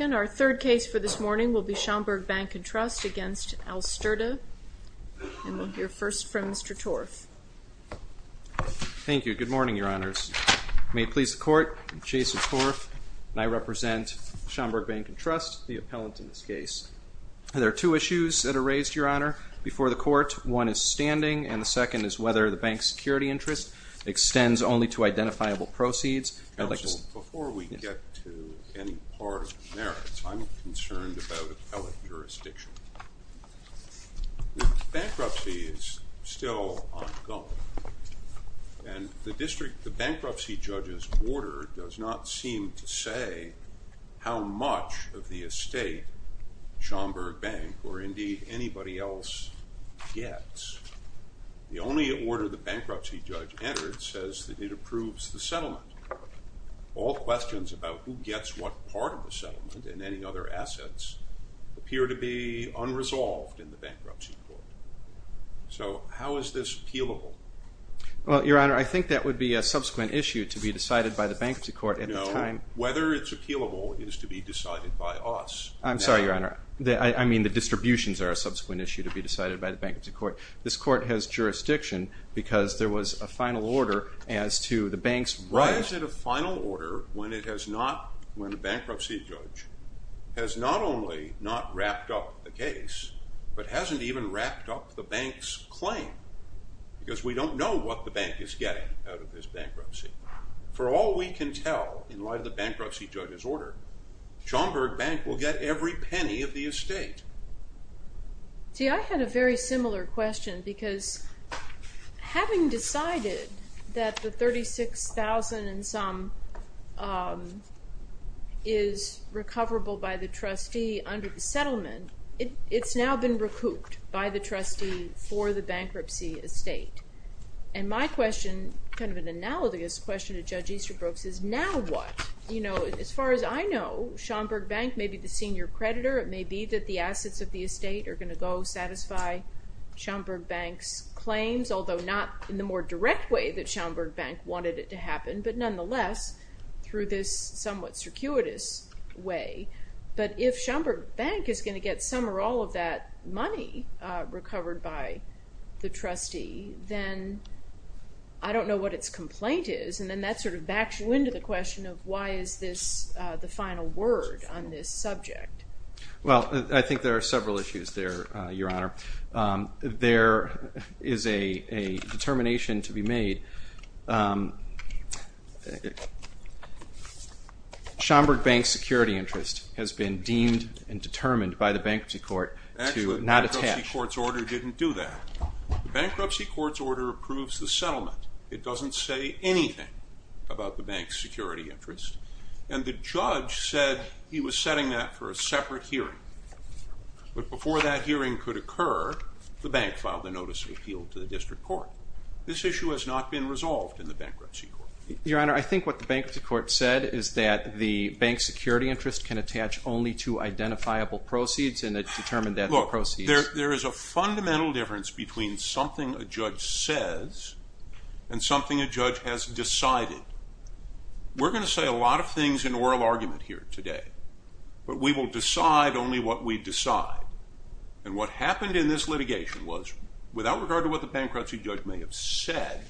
Our third case for this morning will be Schaumburg Bank &Trust against Alsterda. And we'll hear first from Mr. Torf. Thank you. Good morning, Your Honors. May it please the Court, I'm Jason Torf, and I represent Schaumburg Bank &Trust, the appellant in this case. There are two issues that are raised, Your Honor, before the Court. One is standing, and the second is whether the bank's security interest extends only to identifiable proceeds. Counsel, before we get to any part of the merits, I'm concerned about appellate jurisdiction. Bankruptcy is still ongoing, and the bankruptcy judge's order does not seem to say how much of the estate Schaumburg Bank, or indeed anybody else, gets. The only order the bankruptcy judge entered says that it approves the settlement. All questions about who gets what part of the settlement and any other assets appear to be unresolved in the bankruptcy court. So how is this appealable? Well, Your Honor, I think that would be a subsequent issue to be decided by the bankruptcy court at the time. No. Whether it's appealable is to be decided by us. I'm sorry, Your Honor. I mean the distributions are a subsequent issue to be decided by the bankruptcy court. This court has jurisdiction because there was a final order as to the bank's rights. Why is it a final order when the bankruptcy judge has not only not wrapped up the case, but hasn't even wrapped up the bank's claim? Because we don't know what the bank is getting out of this bankruptcy. For all we can tell, in light of the bankruptcy judge's order, Schaumburg Bank will get every penny of the estate. See, I had a very similar question because having decided that the $36,000 and some is recoverable by the trustee under the settlement, it's now been recouped by the trustee for the bankruptcy estate. And my question, kind of an analogous question to Judge Easterbrook's, is now what? As far as I know, Schaumburg Bank may be the senior creditor. It may be that the assets of the estate are going to go satisfy Schaumburg Bank's claims, although not in the more direct way that Schaumburg Bank wanted it to happen, but nonetheless through this somewhat circuitous way. But if Schaumburg Bank is going to get some or all of that money recovered by the trustee, then I don't know what its complaint is. And then that sort of backs you into the question of why is this the final word on this subject? Well, I think there are several issues there, Your Honor. There is a determination to be made. Schaumburg Bank's security interest has been deemed and determined by the bankruptcy court to not attack. Actually, the bankruptcy court's order didn't do that. The bankruptcy court's order approves the settlement. It does not. It doesn't say anything about the bank's security interest. And the judge said he was setting that for a separate hearing. But before that hearing could occur, the bank filed a notice of appeal to the district court. This issue has not been resolved in the bankruptcy court. Your Honor, I think what the bankruptcy court said is that the bank's security interest can attach only to identifiable proceeds, Look, there is a fundamental difference between something a judge says and something a judge has decided. We're going to say a lot of things in oral argument here today, but we will decide only what we decide. And what happened in this litigation was, without regard to what the bankruptcy judge may have said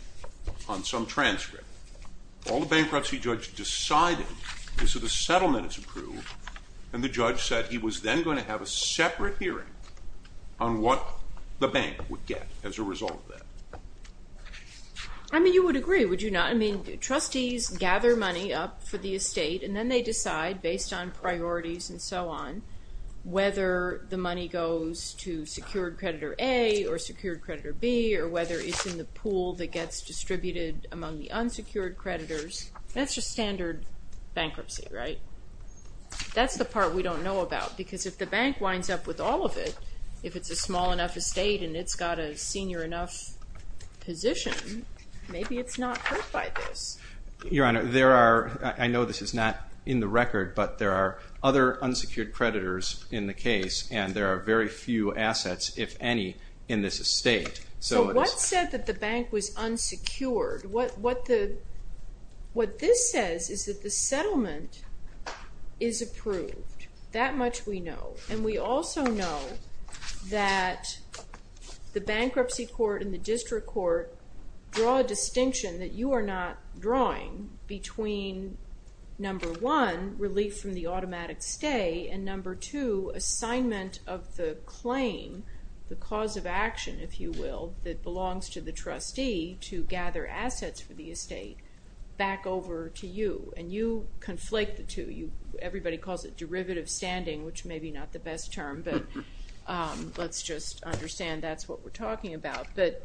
on some transcript, all the bankruptcy judge decided is that the settlement is approved, and the judge said he was then going to have a separate hearing on what the bank would get as a result of that. I mean, you would agree, would you not? I mean, trustees gather money up for the estate, and then they decide, based on priorities and so on, whether the money goes to secured creditor A or secured creditor B, or whether it's in the pool that gets distributed among the unsecured creditors. That's just standard bankruptcy, right? That's the part we don't know about, because if the bank winds up with all of it, if it's a small enough estate and it's got a senior enough position, maybe it's not hurt by this. Your Honor, there are, I know this is not in the record, but there are other unsecured creditors in the case, and there are very few assets, if any, in this estate. So what said that the bank was unsecured? What this says is that the settlement is approved. That much we know. And we also know that the bankruptcy court and the district court draw a distinction that you are not drawing between, number one, relief from the automatic stay, and number two, assignment of the claim, the cause of action, if you will, that belongs to the trustee to gather assets for the estate, back over to you. And you conflate the two. Everybody calls it derivative standing, which may be not the best term, but let's just understand that's what we're talking about. But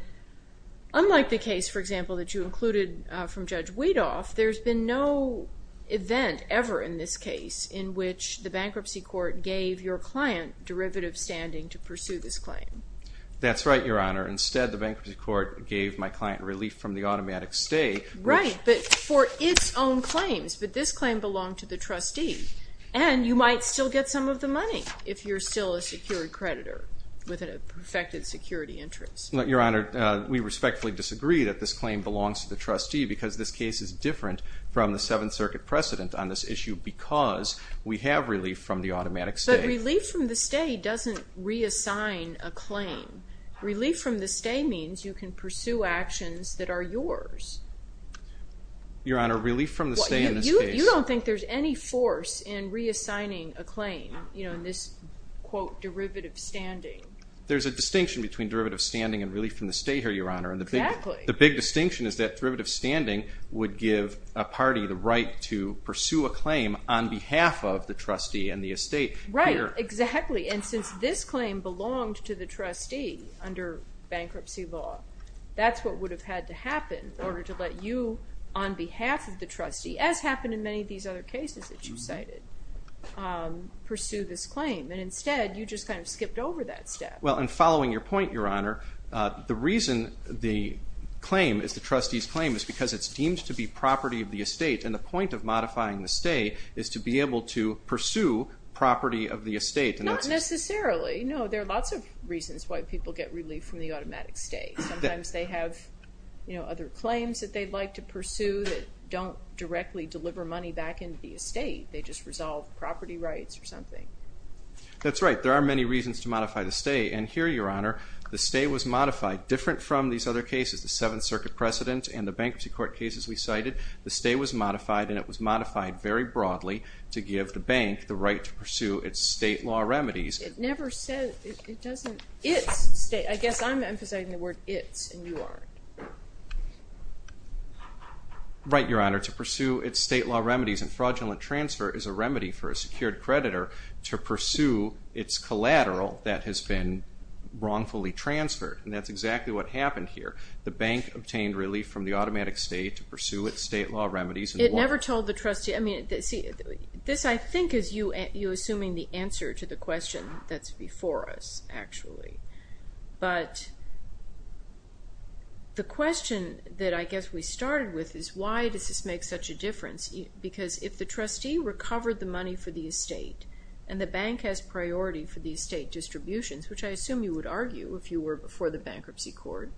unlike the case, for example, that you included from Judge Weedoff, there's been no event ever in this case in which the bankruptcy court gave your client derivative standing to pursue this claim. That's right, Your Honor. Instead, the bankruptcy court gave my client relief from the automatic stay. Right, but for its own claims. But this claim belonged to the trustee, and you might still get some of the money if you're still a secured creditor with a perfected security interest. Your Honor, we respectfully disagree that this claim belongs to the trustee because this case is different from the Seventh Circuit precedent on this issue because we have relief from the automatic stay. But relief from the stay doesn't reassign a claim. Relief from the stay means you can pursue actions that are yours. Your Honor, relief from the stay in this case. There's a distinction between derivative standing and relief from the stay here, Your Honor. The big distinction is that derivative standing would give a party the right to pursue a claim on behalf of the trustee and the estate. Right, exactly, and since this claim belonged to the trustee under bankruptcy law, that's what would have had to happen in order to let you, on behalf of the trustee, as happened in many of these other cases that you cited, pursue this claim. And instead, you just kind of skipped over that step. Well, in following your point, Your Honor, the reason the claim is the trustee's claim is because it's deemed to be property of the estate, and the point of modifying the stay is to be able to pursue property of the estate. Not necessarily. No, there are lots of reasons why people get relief from the automatic stay. Sometimes they have other claims that they'd like to pursue that don't directly deliver money back into the estate. They just resolve property rights or something. That's right. There are many reasons to modify the stay, and here, Your Honor, the stay was modified. Different from these other cases, the Seventh Circuit precedent and the bankruptcy court cases we cited, the stay was modified, and it was modified very broadly to give the bank the right to pursue its state law remedies. It never says, it doesn't, it's state. I guess I'm emphasizing the word it's, and you aren't. Right, Your Honor. To pursue its state law remedies and fraudulent transfer is a remedy for a secured creditor to pursue its collateral that has been wrongfully transferred, and that's exactly what happened here. The bank obtained relief from the automatic stay to pursue its state law remedies. It never told the trustee, I mean, see, this I think is you assuming the answer to the question that's before us, actually. But the question that I guess we started with is why does this make such a difference? Because if the trustee recovered the money for the estate and the bank has priority for the estate distributions, which I assume you would argue if you were before the bankruptcy court,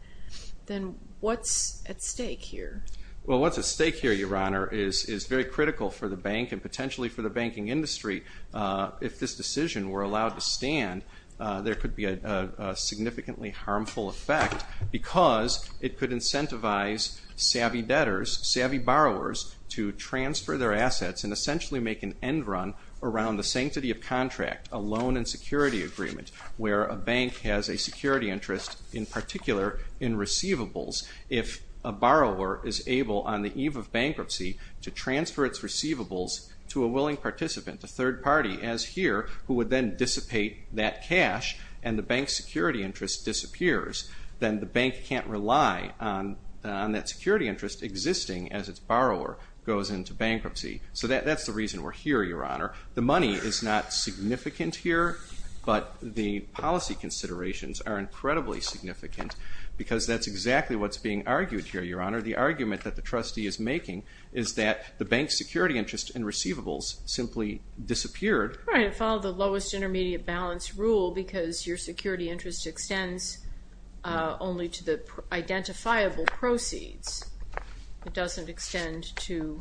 then what's at stake here? Well, what's at stake here, Your Honor, is very critical for the bank and potentially for the banking industry. If this decision were allowed to stand, there could be a significantly harmful effect because it could incentivize savvy debtors, savvy borrowers, to transfer their assets and essentially make an end run around the sanctity of contract, a loan and security agreement, where a bank has a security interest in particular in receivables. If a borrower is able on the eve of bankruptcy to transfer its receivables to a willing participant, a third party as here, who would then dissipate that cash and the bank's security interest disappears, then the bank can't rely on that security interest existing as its borrower goes into bankruptcy. So that's the reason we're here, Your Honor. The money is not significant here, but the policy considerations are incredibly significant because that's exactly what's being argued here, Your Honor. The argument that the trustee is making is that the bank's security interest in receivables simply disappeared. Right, it followed the lowest intermediate balance rule because your security interest extends only to the identifiable proceeds. It doesn't extend to,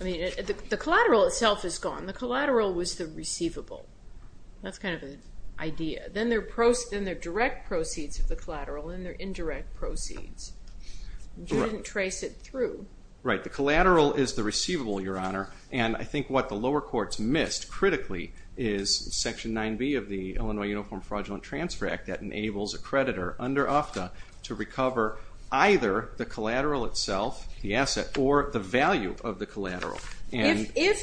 I mean, the collateral itself is gone. The collateral was the receivable. That's kind of an idea. Then there are direct proceeds of the collateral and there are indirect proceeds. You didn't trace it through. Right, the collateral is the receivable, Your Honor, and I think what the lower courts missed critically is Section 9B of the Illinois Uniform Fraudulent Transfer Act that enables a creditor under UFTA to recover either the collateral itself, the asset, or the value of the collateral. If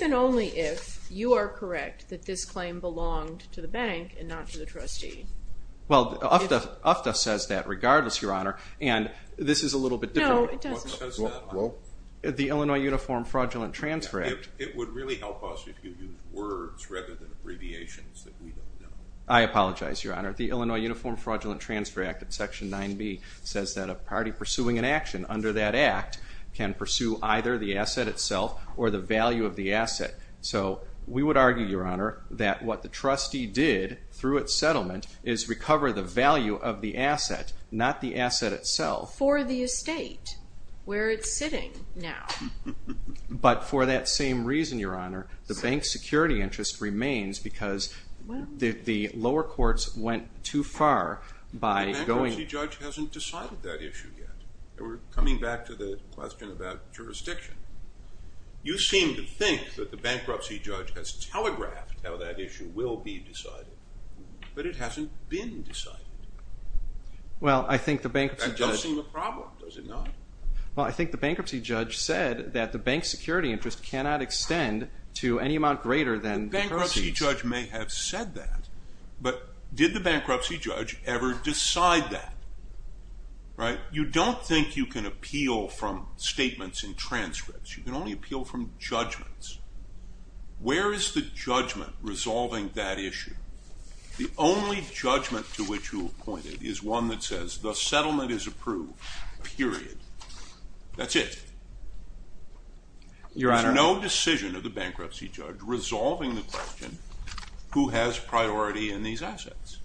and only if you are correct that this claim belonged to the bank and not to the trustee. Well, UFTA says that regardless, Your Honor, and this is a little bit different. No, it doesn't. The Illinois Uniform Fraudulent Transfer Act. It would really help us if you used words rather than abbreviations that we don't know. I apologize, Your Honor. The Illinois Uniform Fraudulent Transfer Act, Section 9B, says that a party pursuing an action under that act can pursue either the asset itself or the value of the asset. So we would argue, Your Honor, that what the trustee did through its settlement is recover the value of the asset, not the asset itself. For the estate, where it's sitting now. But for that same reason, Your Honor, the bank's security interest remains because the lower courts went too far by going The bankruptcy judge hasn't decided that issue yet. We're coming back to the question about jurisdiction. You seem to think that the bankruptcy judge has telegraphed how that issue will be decided. But it hasn't been decided. That does seem a problem, does it not? Well, I think the bankruptcy judge said that the bank's security interest cannot extend to any amount greater than the proceeds. The bankruptcy judge may have said that, but did the bankruptcy judge ever decide that? You don't think you can appeal from statements and transcripts. You can only appeal from judgments. Where is the judgment resolving that issue? The only judgment to which you have pointed is one that says the settlement is approved, period. That's it. There's no decision of the bankruptcy judge resolving the question who has priority in these assets.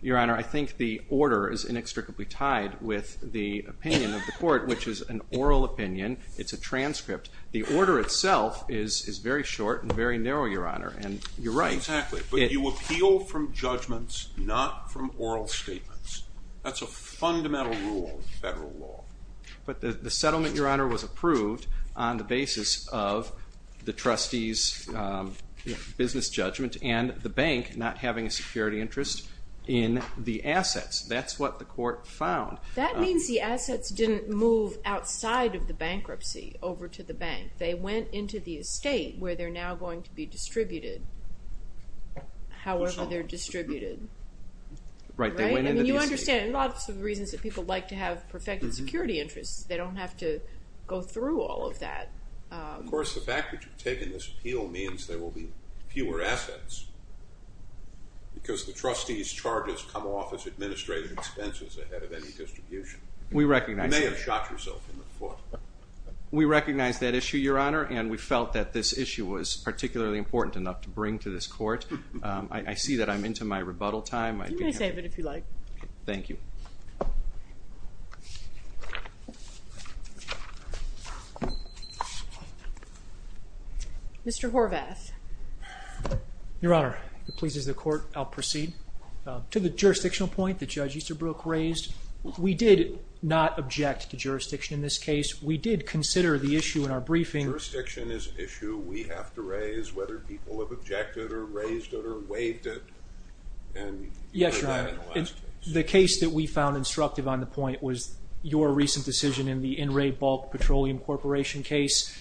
Your Honor, I think the order is inextricably tied with the opinion of the court, which is an oral opinion. It's a transcript. The order itself is very short and very narrow, Your Honor, and you're right. Exactly. But you appeal from judgments, not from oral statements. That's a fundamental rule of federal law. But the settlement, Your Honor, was approved on the basis of the trustee's business judgment and the bank not having a security interest in the assets. That's what the court found. That means the assets didn't move outside of the bankruptcy over to the bank. They went into the estate where they're now going to be distributed, however they're distributed. Right. You understand lots of reasons that people like to have perfected security interests. They don't have to go through all of that. Of course, the fact that you've taken this appeal means there will be fewer assets because the trustee's charges come off as administrative expenses ahead of any distribution. You may have shot yourself in the foot. We recognize that issue, Your Honor, and we felt that this issue was particularly important enough to bring to this court. I see that I'm into my rebuttal time. You may save it if you like. Thank you. Mr. Horvath. Your Honor, if it pleases the court, I'll proceed. To the jurisdictional point that Judge Easterbrook raised, we did not object to jurisdiction in this case. We did consider the issue in our briefing. Jurisdiction is an issue we have to raise whether people have objected or raised it or waived it. Yes, Your Honor. The case that we found instructive on the point was your recent decision in the in-rate bulk petroleum corporation case.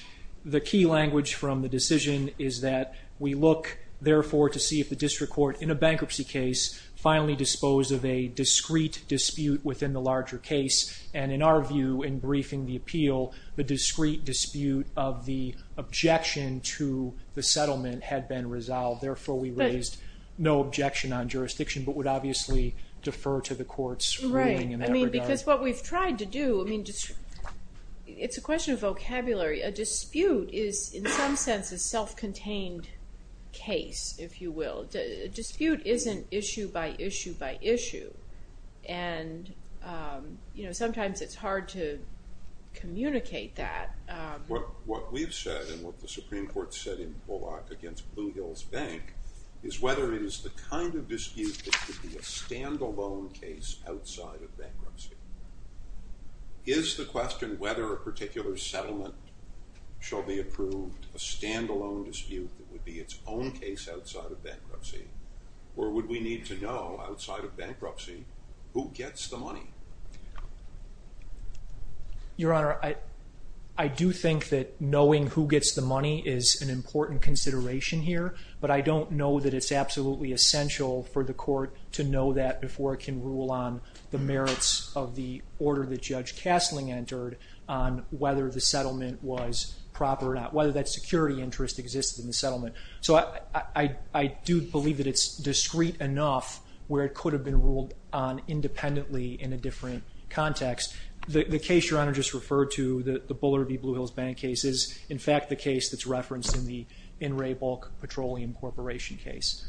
The key language from the decision is that we look, therefore, to see if the district court in a bankruptcy case finally disposed of a discrete dispute within the larger case. And in our view, in briefing the appeal, the discrete dispute of the objection to the settlement had been resolved. Therefore, we raised no objection on jurisdiction but would obviously defer to the court's ruling in that regard. Right. I mean, because what we've tried to do, I mean, it's a question of vocabulary. A dispute is in some sense a self-contained case, if you will. A dispute isn't issue by issue by issue. And, you know, sometimes it's hard to communicate that. What we've said and what the Supreme Court said in Bullock against Blue Hills Bank is whether it is the kind of dispute that could be a stand-alone case outside of bankruptcy. Is the question whether a particular settlement shall be approved a stand-alone dispute that would be its own case outside of bankruptcy? Or would we need to know outside of bankruptcy who gets the money? Your Honor, I do think that knowing who gets the money is an important consideration here. But I don't know that it's absolutely essential for the court to know that before it can rule on the merits of the order that Judge Castling entered on whether the settlement was proper or not. Whether that security interest exists in the settlement. So I do believe that it's discreet enough where it could have been ruled on independently in a different context. The case Your Honor just referred to, the Bullard v. Blue Hills Bank case, is in fact the case that's referenced in the In Re Bulk Petroleum Corporation case.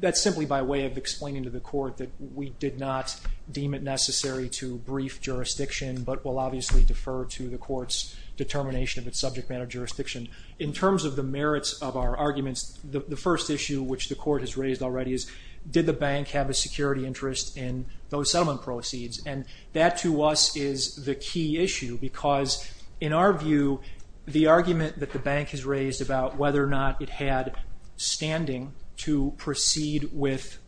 That's simply by way of explaining to the court that we did not deem it necessary to brief jurisdiction but will obviously defer to the court's determination of its subject matter jurisdiction. In terms of the merits of our arguments, the first issue which the court has raised already is did the bank have a security interest in those settlement proceeds? And that to us is the key issue because in our view, the argument that the bank has raised about whether or not it had standing to proceed with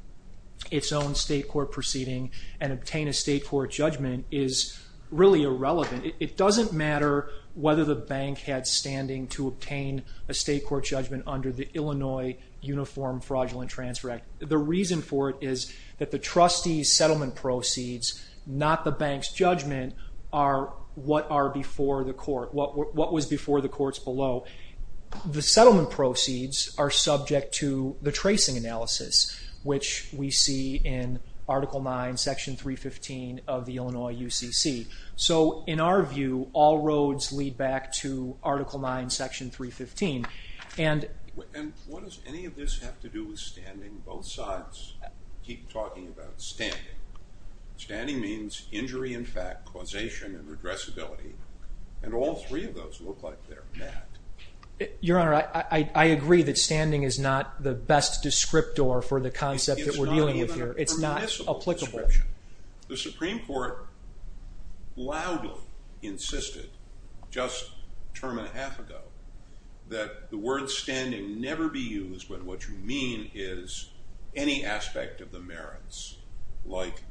its own state court proceeding and obtain a state court judgment is really irrelevant. It doesn't matter whether the bank had standing to obtain a state court judgment under the Illinois Uniform Fraudulent Transfer Act. The reason for it is that the trustee's settlement proceeds, not the bank's judgment, are what was before the court's below. The settlement proceeds are subject to the tracing analysis, which we see in Article 9, Section 315 of the Illinois UCC. So in our view, all roads lead back to Article 9, Section 315. And what does any of this have to do with standing? Both sides keep talking about standing. Standing means injury in fact, causation, and redressability. And all three of those look like they're bad. Your Honor, I agree that standing is not the best descriptor for the concept that we're dealing with here. It's not applicable. The Supreme Court loudly insisted just a term and a half ago that the word standing never be used when what you mean is any aspect of the merits, like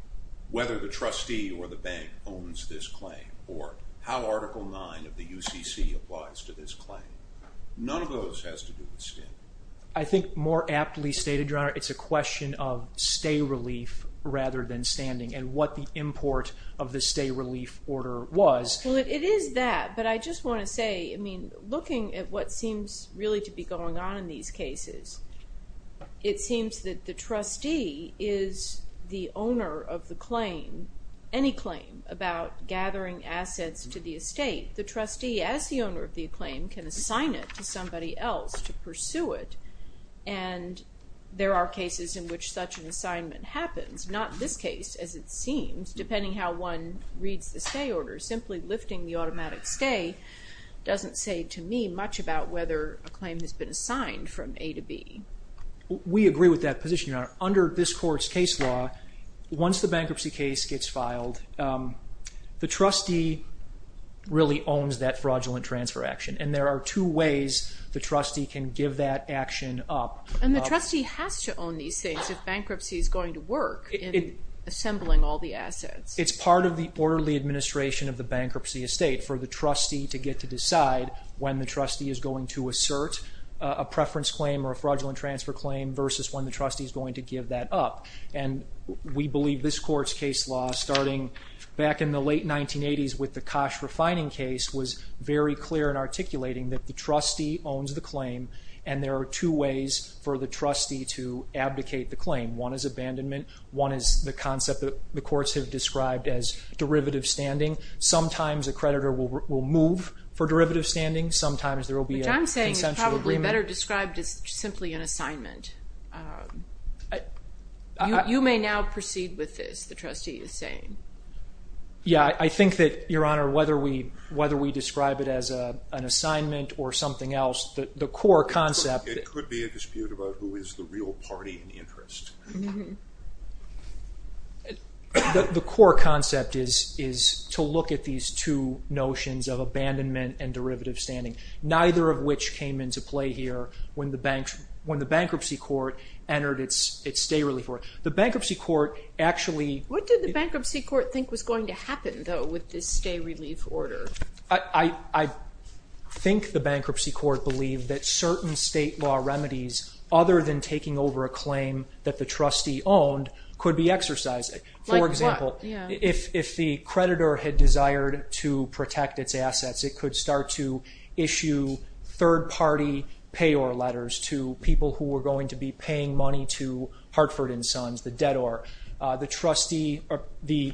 whether the trustee or the bank owns this claim or how Article 9 of the UCC applies to this claim. None of those has to do with standing. I think more aptly stated, Your Honor, it's a question of stay relief rather than standing and what the import of the stay relief order was. Well, it is that, but I just want to say, I mean, looking at what seems really to be going on in these cases, it seems that the trustee is the owner of the claim, any claim, about gathering assets to the estate. The trustee, as the owner of the claim, can assign it to somebody else to pursue it, and there are cases in which such an assignment happens. Not this case, as it seems, depending how one reads the stay order. Simply lifting the automatic stay doesn't say to me much about whether a claim has been assigned from A to B. We agree with that position, Your Honor. Under this Court's case law, once the bankruptcy case gets filed, the trustee really owns that fraudulent transfer action, and there are two ways the trustee can give that action up. And the trustee has to own these things if bankruptcy is going to work in assembling all the assets. It's part of the orderly administration of the bankruptcy estate for the trustee to get to decide when the trustee is going to assert a preference claim or a fraudulent transfer claim versus when the trustee is going to give that up. We believe this Court's case law, starting back in the late 1980s with the Koch refining case, was very clear in articulating that the trustee owns the claim, and there are two ways for the trustee to abdicate the claim. One is abandonment. One is the concept that the courts have described as derivative standing. Sometimes a creditor will move for derivative standing. Which I'm saying is probably better described as simply an assignment. You may now proceed with this, the trustee is saying. Yeah, I think that, Your Honor, whether we describe it as an assignment or something else, the core concept It could be a dispute about who is the real party in interest. The core concept is to look at these two notions of abandonment and derivative standing, neither of which came into play here when the bankruptcy court entered its stay relief order. The bankruptcy court actually... What did the bankruptcy court think was going to happen, though, with this stay relief order? I think the bankruptcy court believed that certain state law remedies, other than taking over a claim that the trustee owned, could be exercised. Like what? For example, if the creditor had desired to protect its assets, it could start to issue third-party payor letters to people who were going to be paying money to Hartford & Sons, the debtor. The trustee or the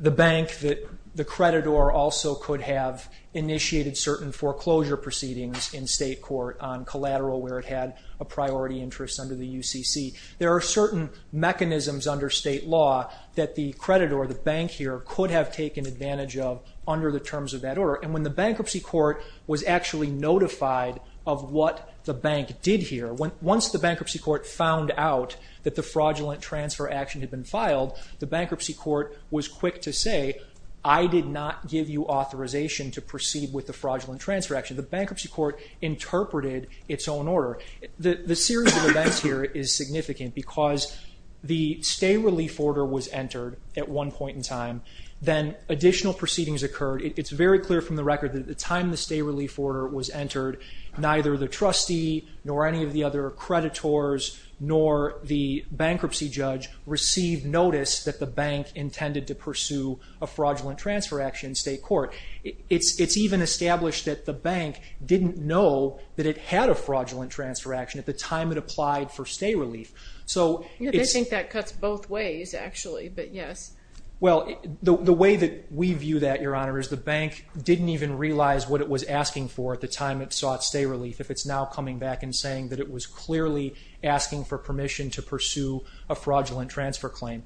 bank that the creditor also could have initiated certain foreclosure proceedings in state court on collateral where it had a priority interest under the UCC. There are certain mechanisms under state law that the creditor or the bank here could have taken advantage of under the terms of that order. And when the bankruptcy court was actually notified of what the bank did here, once the bankruptcy court found out that the fraudulent transfer action had been filed, the bankruptcy court was quick to say, I did not give you authorization to proceed with the fraudulent transfer action. The bankruptcy court interpreted its own order. The series of events here is significant because the stay-relief order was entered at one point in time. Then additional proceedings occurred. It's very clear from the record that at the time the stay-relief order was entered, neither the trustee nor any of the other creditors nor the bankruptcy judge received notice that the bank intended to pursue a fraudulent transfer action in state court. It's even established that the bank didn't know that it had a fraudulent transfer action at the time it applied for stay-relief. They think that cuts both ways, actually, but yes. Well, the way that we view that, Your Honor, is the bank didn't even realize what it was asking for at the time it sought stay-relief if it's now coming back and saying that it was clearly asking for permission to pursue a fraudulent transfer claim.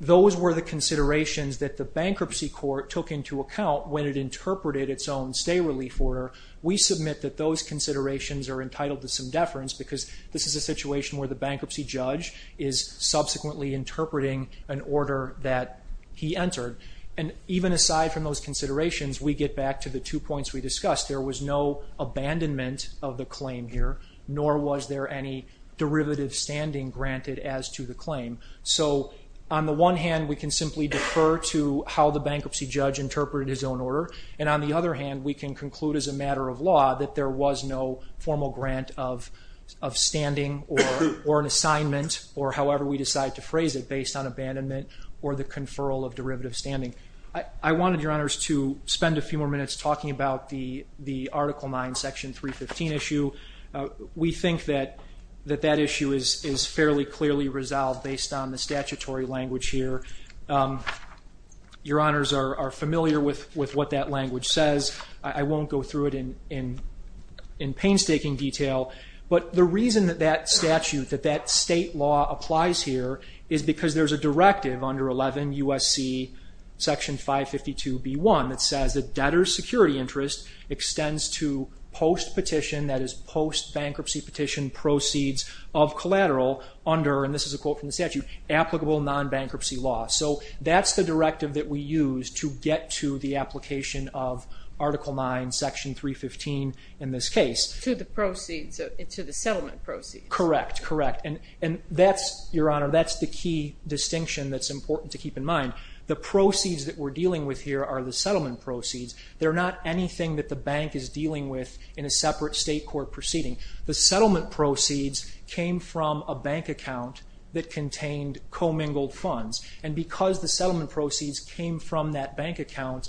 Those were the considerations that the bankruptcy court took into account when it interpreted its own stay-relief order. We submit that those considerations are entitled to some deference because this is a situation where the bankruptcy judge is subsequently interpreting an order that he entered. Even aside from those considerations, we get back to the two points we discussed. There was no abandonment of the claim here, nor was there any derivative standing granted as to the claim. So on the one hand, we can simply defer to how the bankruptcy judge interpreted his own order, and on the other hand, we can conclude as a matter of law that there was no formal grant of standing or an assignment, or however we decide to phrase it, based on abandonment or the conferral of derivative standing. I wanted, Your Honors, to spend a few more minutes talking about the Article 9, Section 315 issue. We think that that issue is fairly clearly resolved based on the statutory language here. Your Honors are familiar with what that language says. I won't go through it in painstaking detail, but the reason that that statute, that that state law applies here is because there's a directive under 11 U.S.C. Section 552b.1 that says that debtor's security interest extends to post-petition, that is post-bankruptcy petition proceeds of collateral under, and this is a quote from the statute, applicable non-bankruptcy law. So that's the directive that we use to get to the application of Article 9, Section 315 in this case. To the proceeds, to the settlement proceeds. Correct, correct. And that's, Your Honor, that's the key distinction that's important to keep in mind. The proceeds that we're dealing with here are the settlement proceeds. They're not anything that the bank is dealing with in a separate state court proceeding. The settlement proceeds came from a bank account that contained commingled funds, and because the settlement proceeds came from that bank account,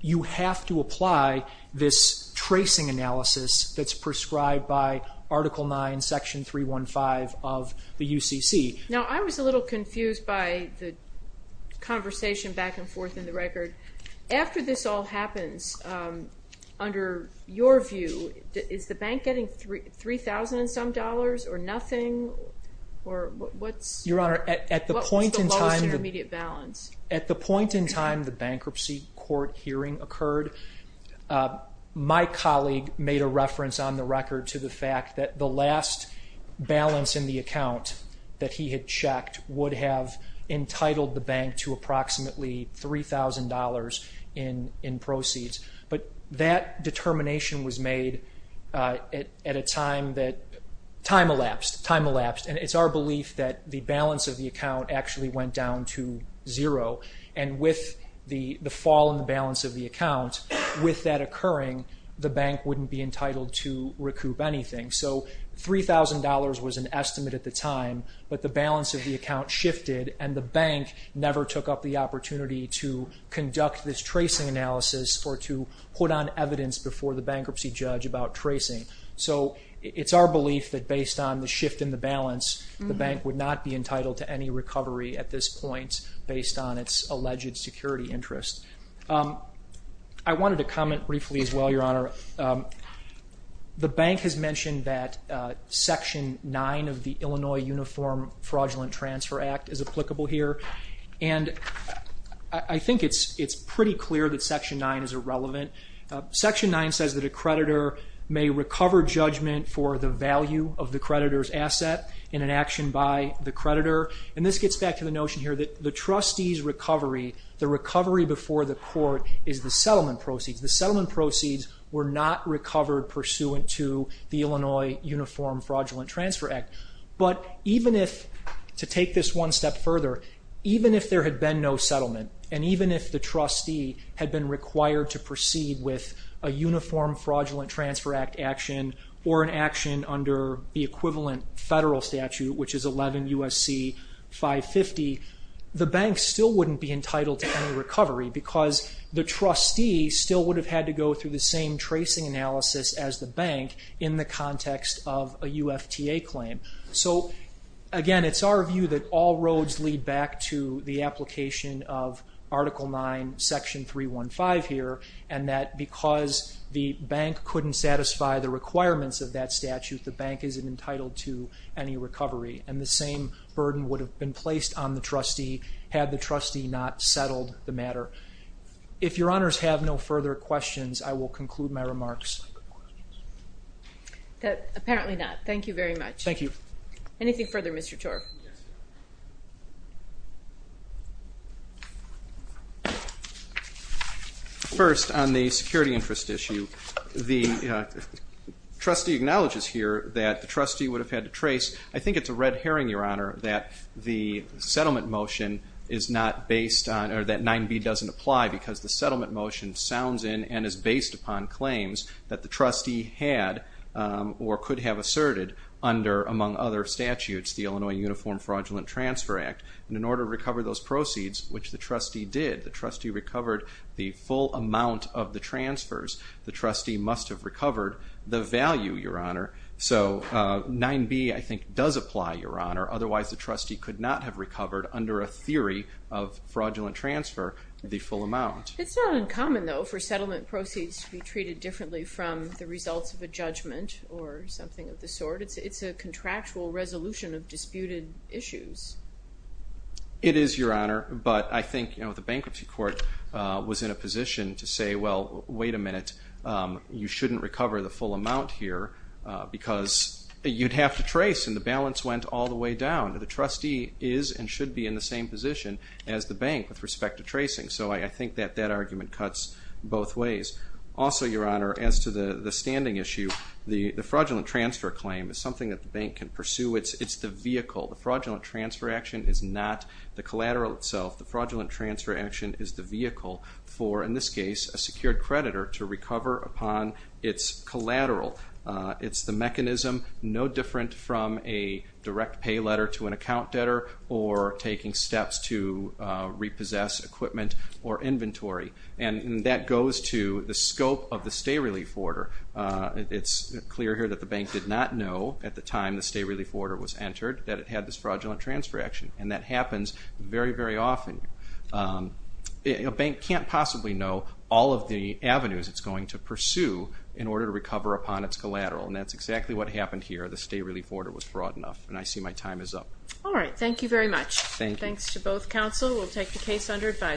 you have to apply this tracing analysis that's prescribed by Article 9, Section 315 of the UCC. Now, I was a little confused by the conversation back and forth in the record. After this all happens, under your view, is the bank getting $3,000 and some dollars or nothing? Your Honor, at the point in time the bankruptcy court hearing occurred, my colleague made a reference on the record to the fact that the last balance in the account that he had checked would have entitled the bank to approximately $3,000 in proceeds. But that determination was made at a time that time elapsed, time elapsed, and it's our belief that the balance of the account actually went down to zero, and with the fall in the balance of the account, with that occurring, the bank wouldn't be entitled to recoup anything. So $3,000 was an estimate at the time, but the balance of the account shifted, and the bank never took up the opportunity to conduct this tracing analysis or to put on evidence before the bankruptcy judge about tracing. So it's our belief that based on the shift in the balance, the bank would not be entitled to any recovery at this point based on its alleged security interest. I wanted to comment briefly as well, Your Honor. The bank has mentioned that Section 9 of the Illinois Uniform Fraudulent Transfer Act is applicable here, and I think it's pretty clear that Section 9 is irrelevant. Section 9 says that a creditor may recover judgment for the value of the creditor's asset in an action by the creditor, and this gets back to the notion here that the trustee's recovery, the recovery before the court, is the settlement proceeds. The settlement proceeds were not recovered pursuant to the Illinois Uniform Fraudulent Transfer Act. But even if, to take this one step further, even if there had been no settlement, and even if the trustee had been required to proceed with a Uniform Fraudulent Transfer Act action or an action under the equivalent federal statute, which is 11 U.S.C. 550, the bank still wouldn't be entitled to any recovery because the trustee still would have had to go through the same tracing analysis as the bank in the context of a UFTA claim. So again, it's our view that all roads lead back to the application of Article 9, Section 315 here, and that because the bank couldn't satisfy the requirements of that statute, the bank isn't entitled to any recovery, and the same burden would have been placed on the trustee had the trustee not settled the matter. If Your Honors have no further questions, I will conclude my remarks. Apparently not. Thank you very much. Thank you. Anything further, Mr. Torb? First, on the security interest issue, the trustee acknowledges here that the trustee would have had to trace. I think it's a red herring, Your Honor, that the settlement motion is not based on or that 9b doesn't apply because the settlement motion sounds in and is based upon claims that the trustee had or could have asserted under, among other statutes, the Illinois Uniform Fraudulent Transfer Act. In order to recover those proceeds, which the trustee did, the trustee recovered the full amount of the transfers, the trustee must have recovered the value, Your Honor. So 9b, I think, does apply, Your Honor. Otherwise, the trustee could not have recovered under a theory of fraudulent transfer the full amount. It's not uncommon, though, for settlement proceeds to be treated differently from the results of a judgment or something of the sort. It's a contractual resolution of disputed issues. It is, Your Honor, but I think the bankruptcy court was in a position to say, well, wait a minute, you shouldn't recover the full amount here because you'd have to trace, and the balance went all the way down. The trustee is and should be in the same position as the bank with respect to tracing. So I think that that argument cuts both ways. Also, Your Honor, as to the standing issue, the fraudulent transfer claim is something that the bank can pursue. It's the vehicle. The fraudulent transfer action is not the collateral itself. The fraudulent transfer action is the vehicle for, in this case, a secured creditor to recover upon its collateral. It's the mechanism, no different from a direct pay letter to an account debtor or taking steps to repossess equipment or inventory, and that goes to the scope of the stay-relief order. It's clear here that the bank did not know at the time the stay-relief order was entered that it had this fraudulent transfer action, and that happens very, very often. A bank can't possibly know all of the avenues it's going to pursue in order to recover upon its collateral, and that's exactly what happened here. The stay-relief order was fraud enough, and I see my time is up. All right. Thank you very much. Thank you. Thanks to both counsel. We'll take the case under advisory.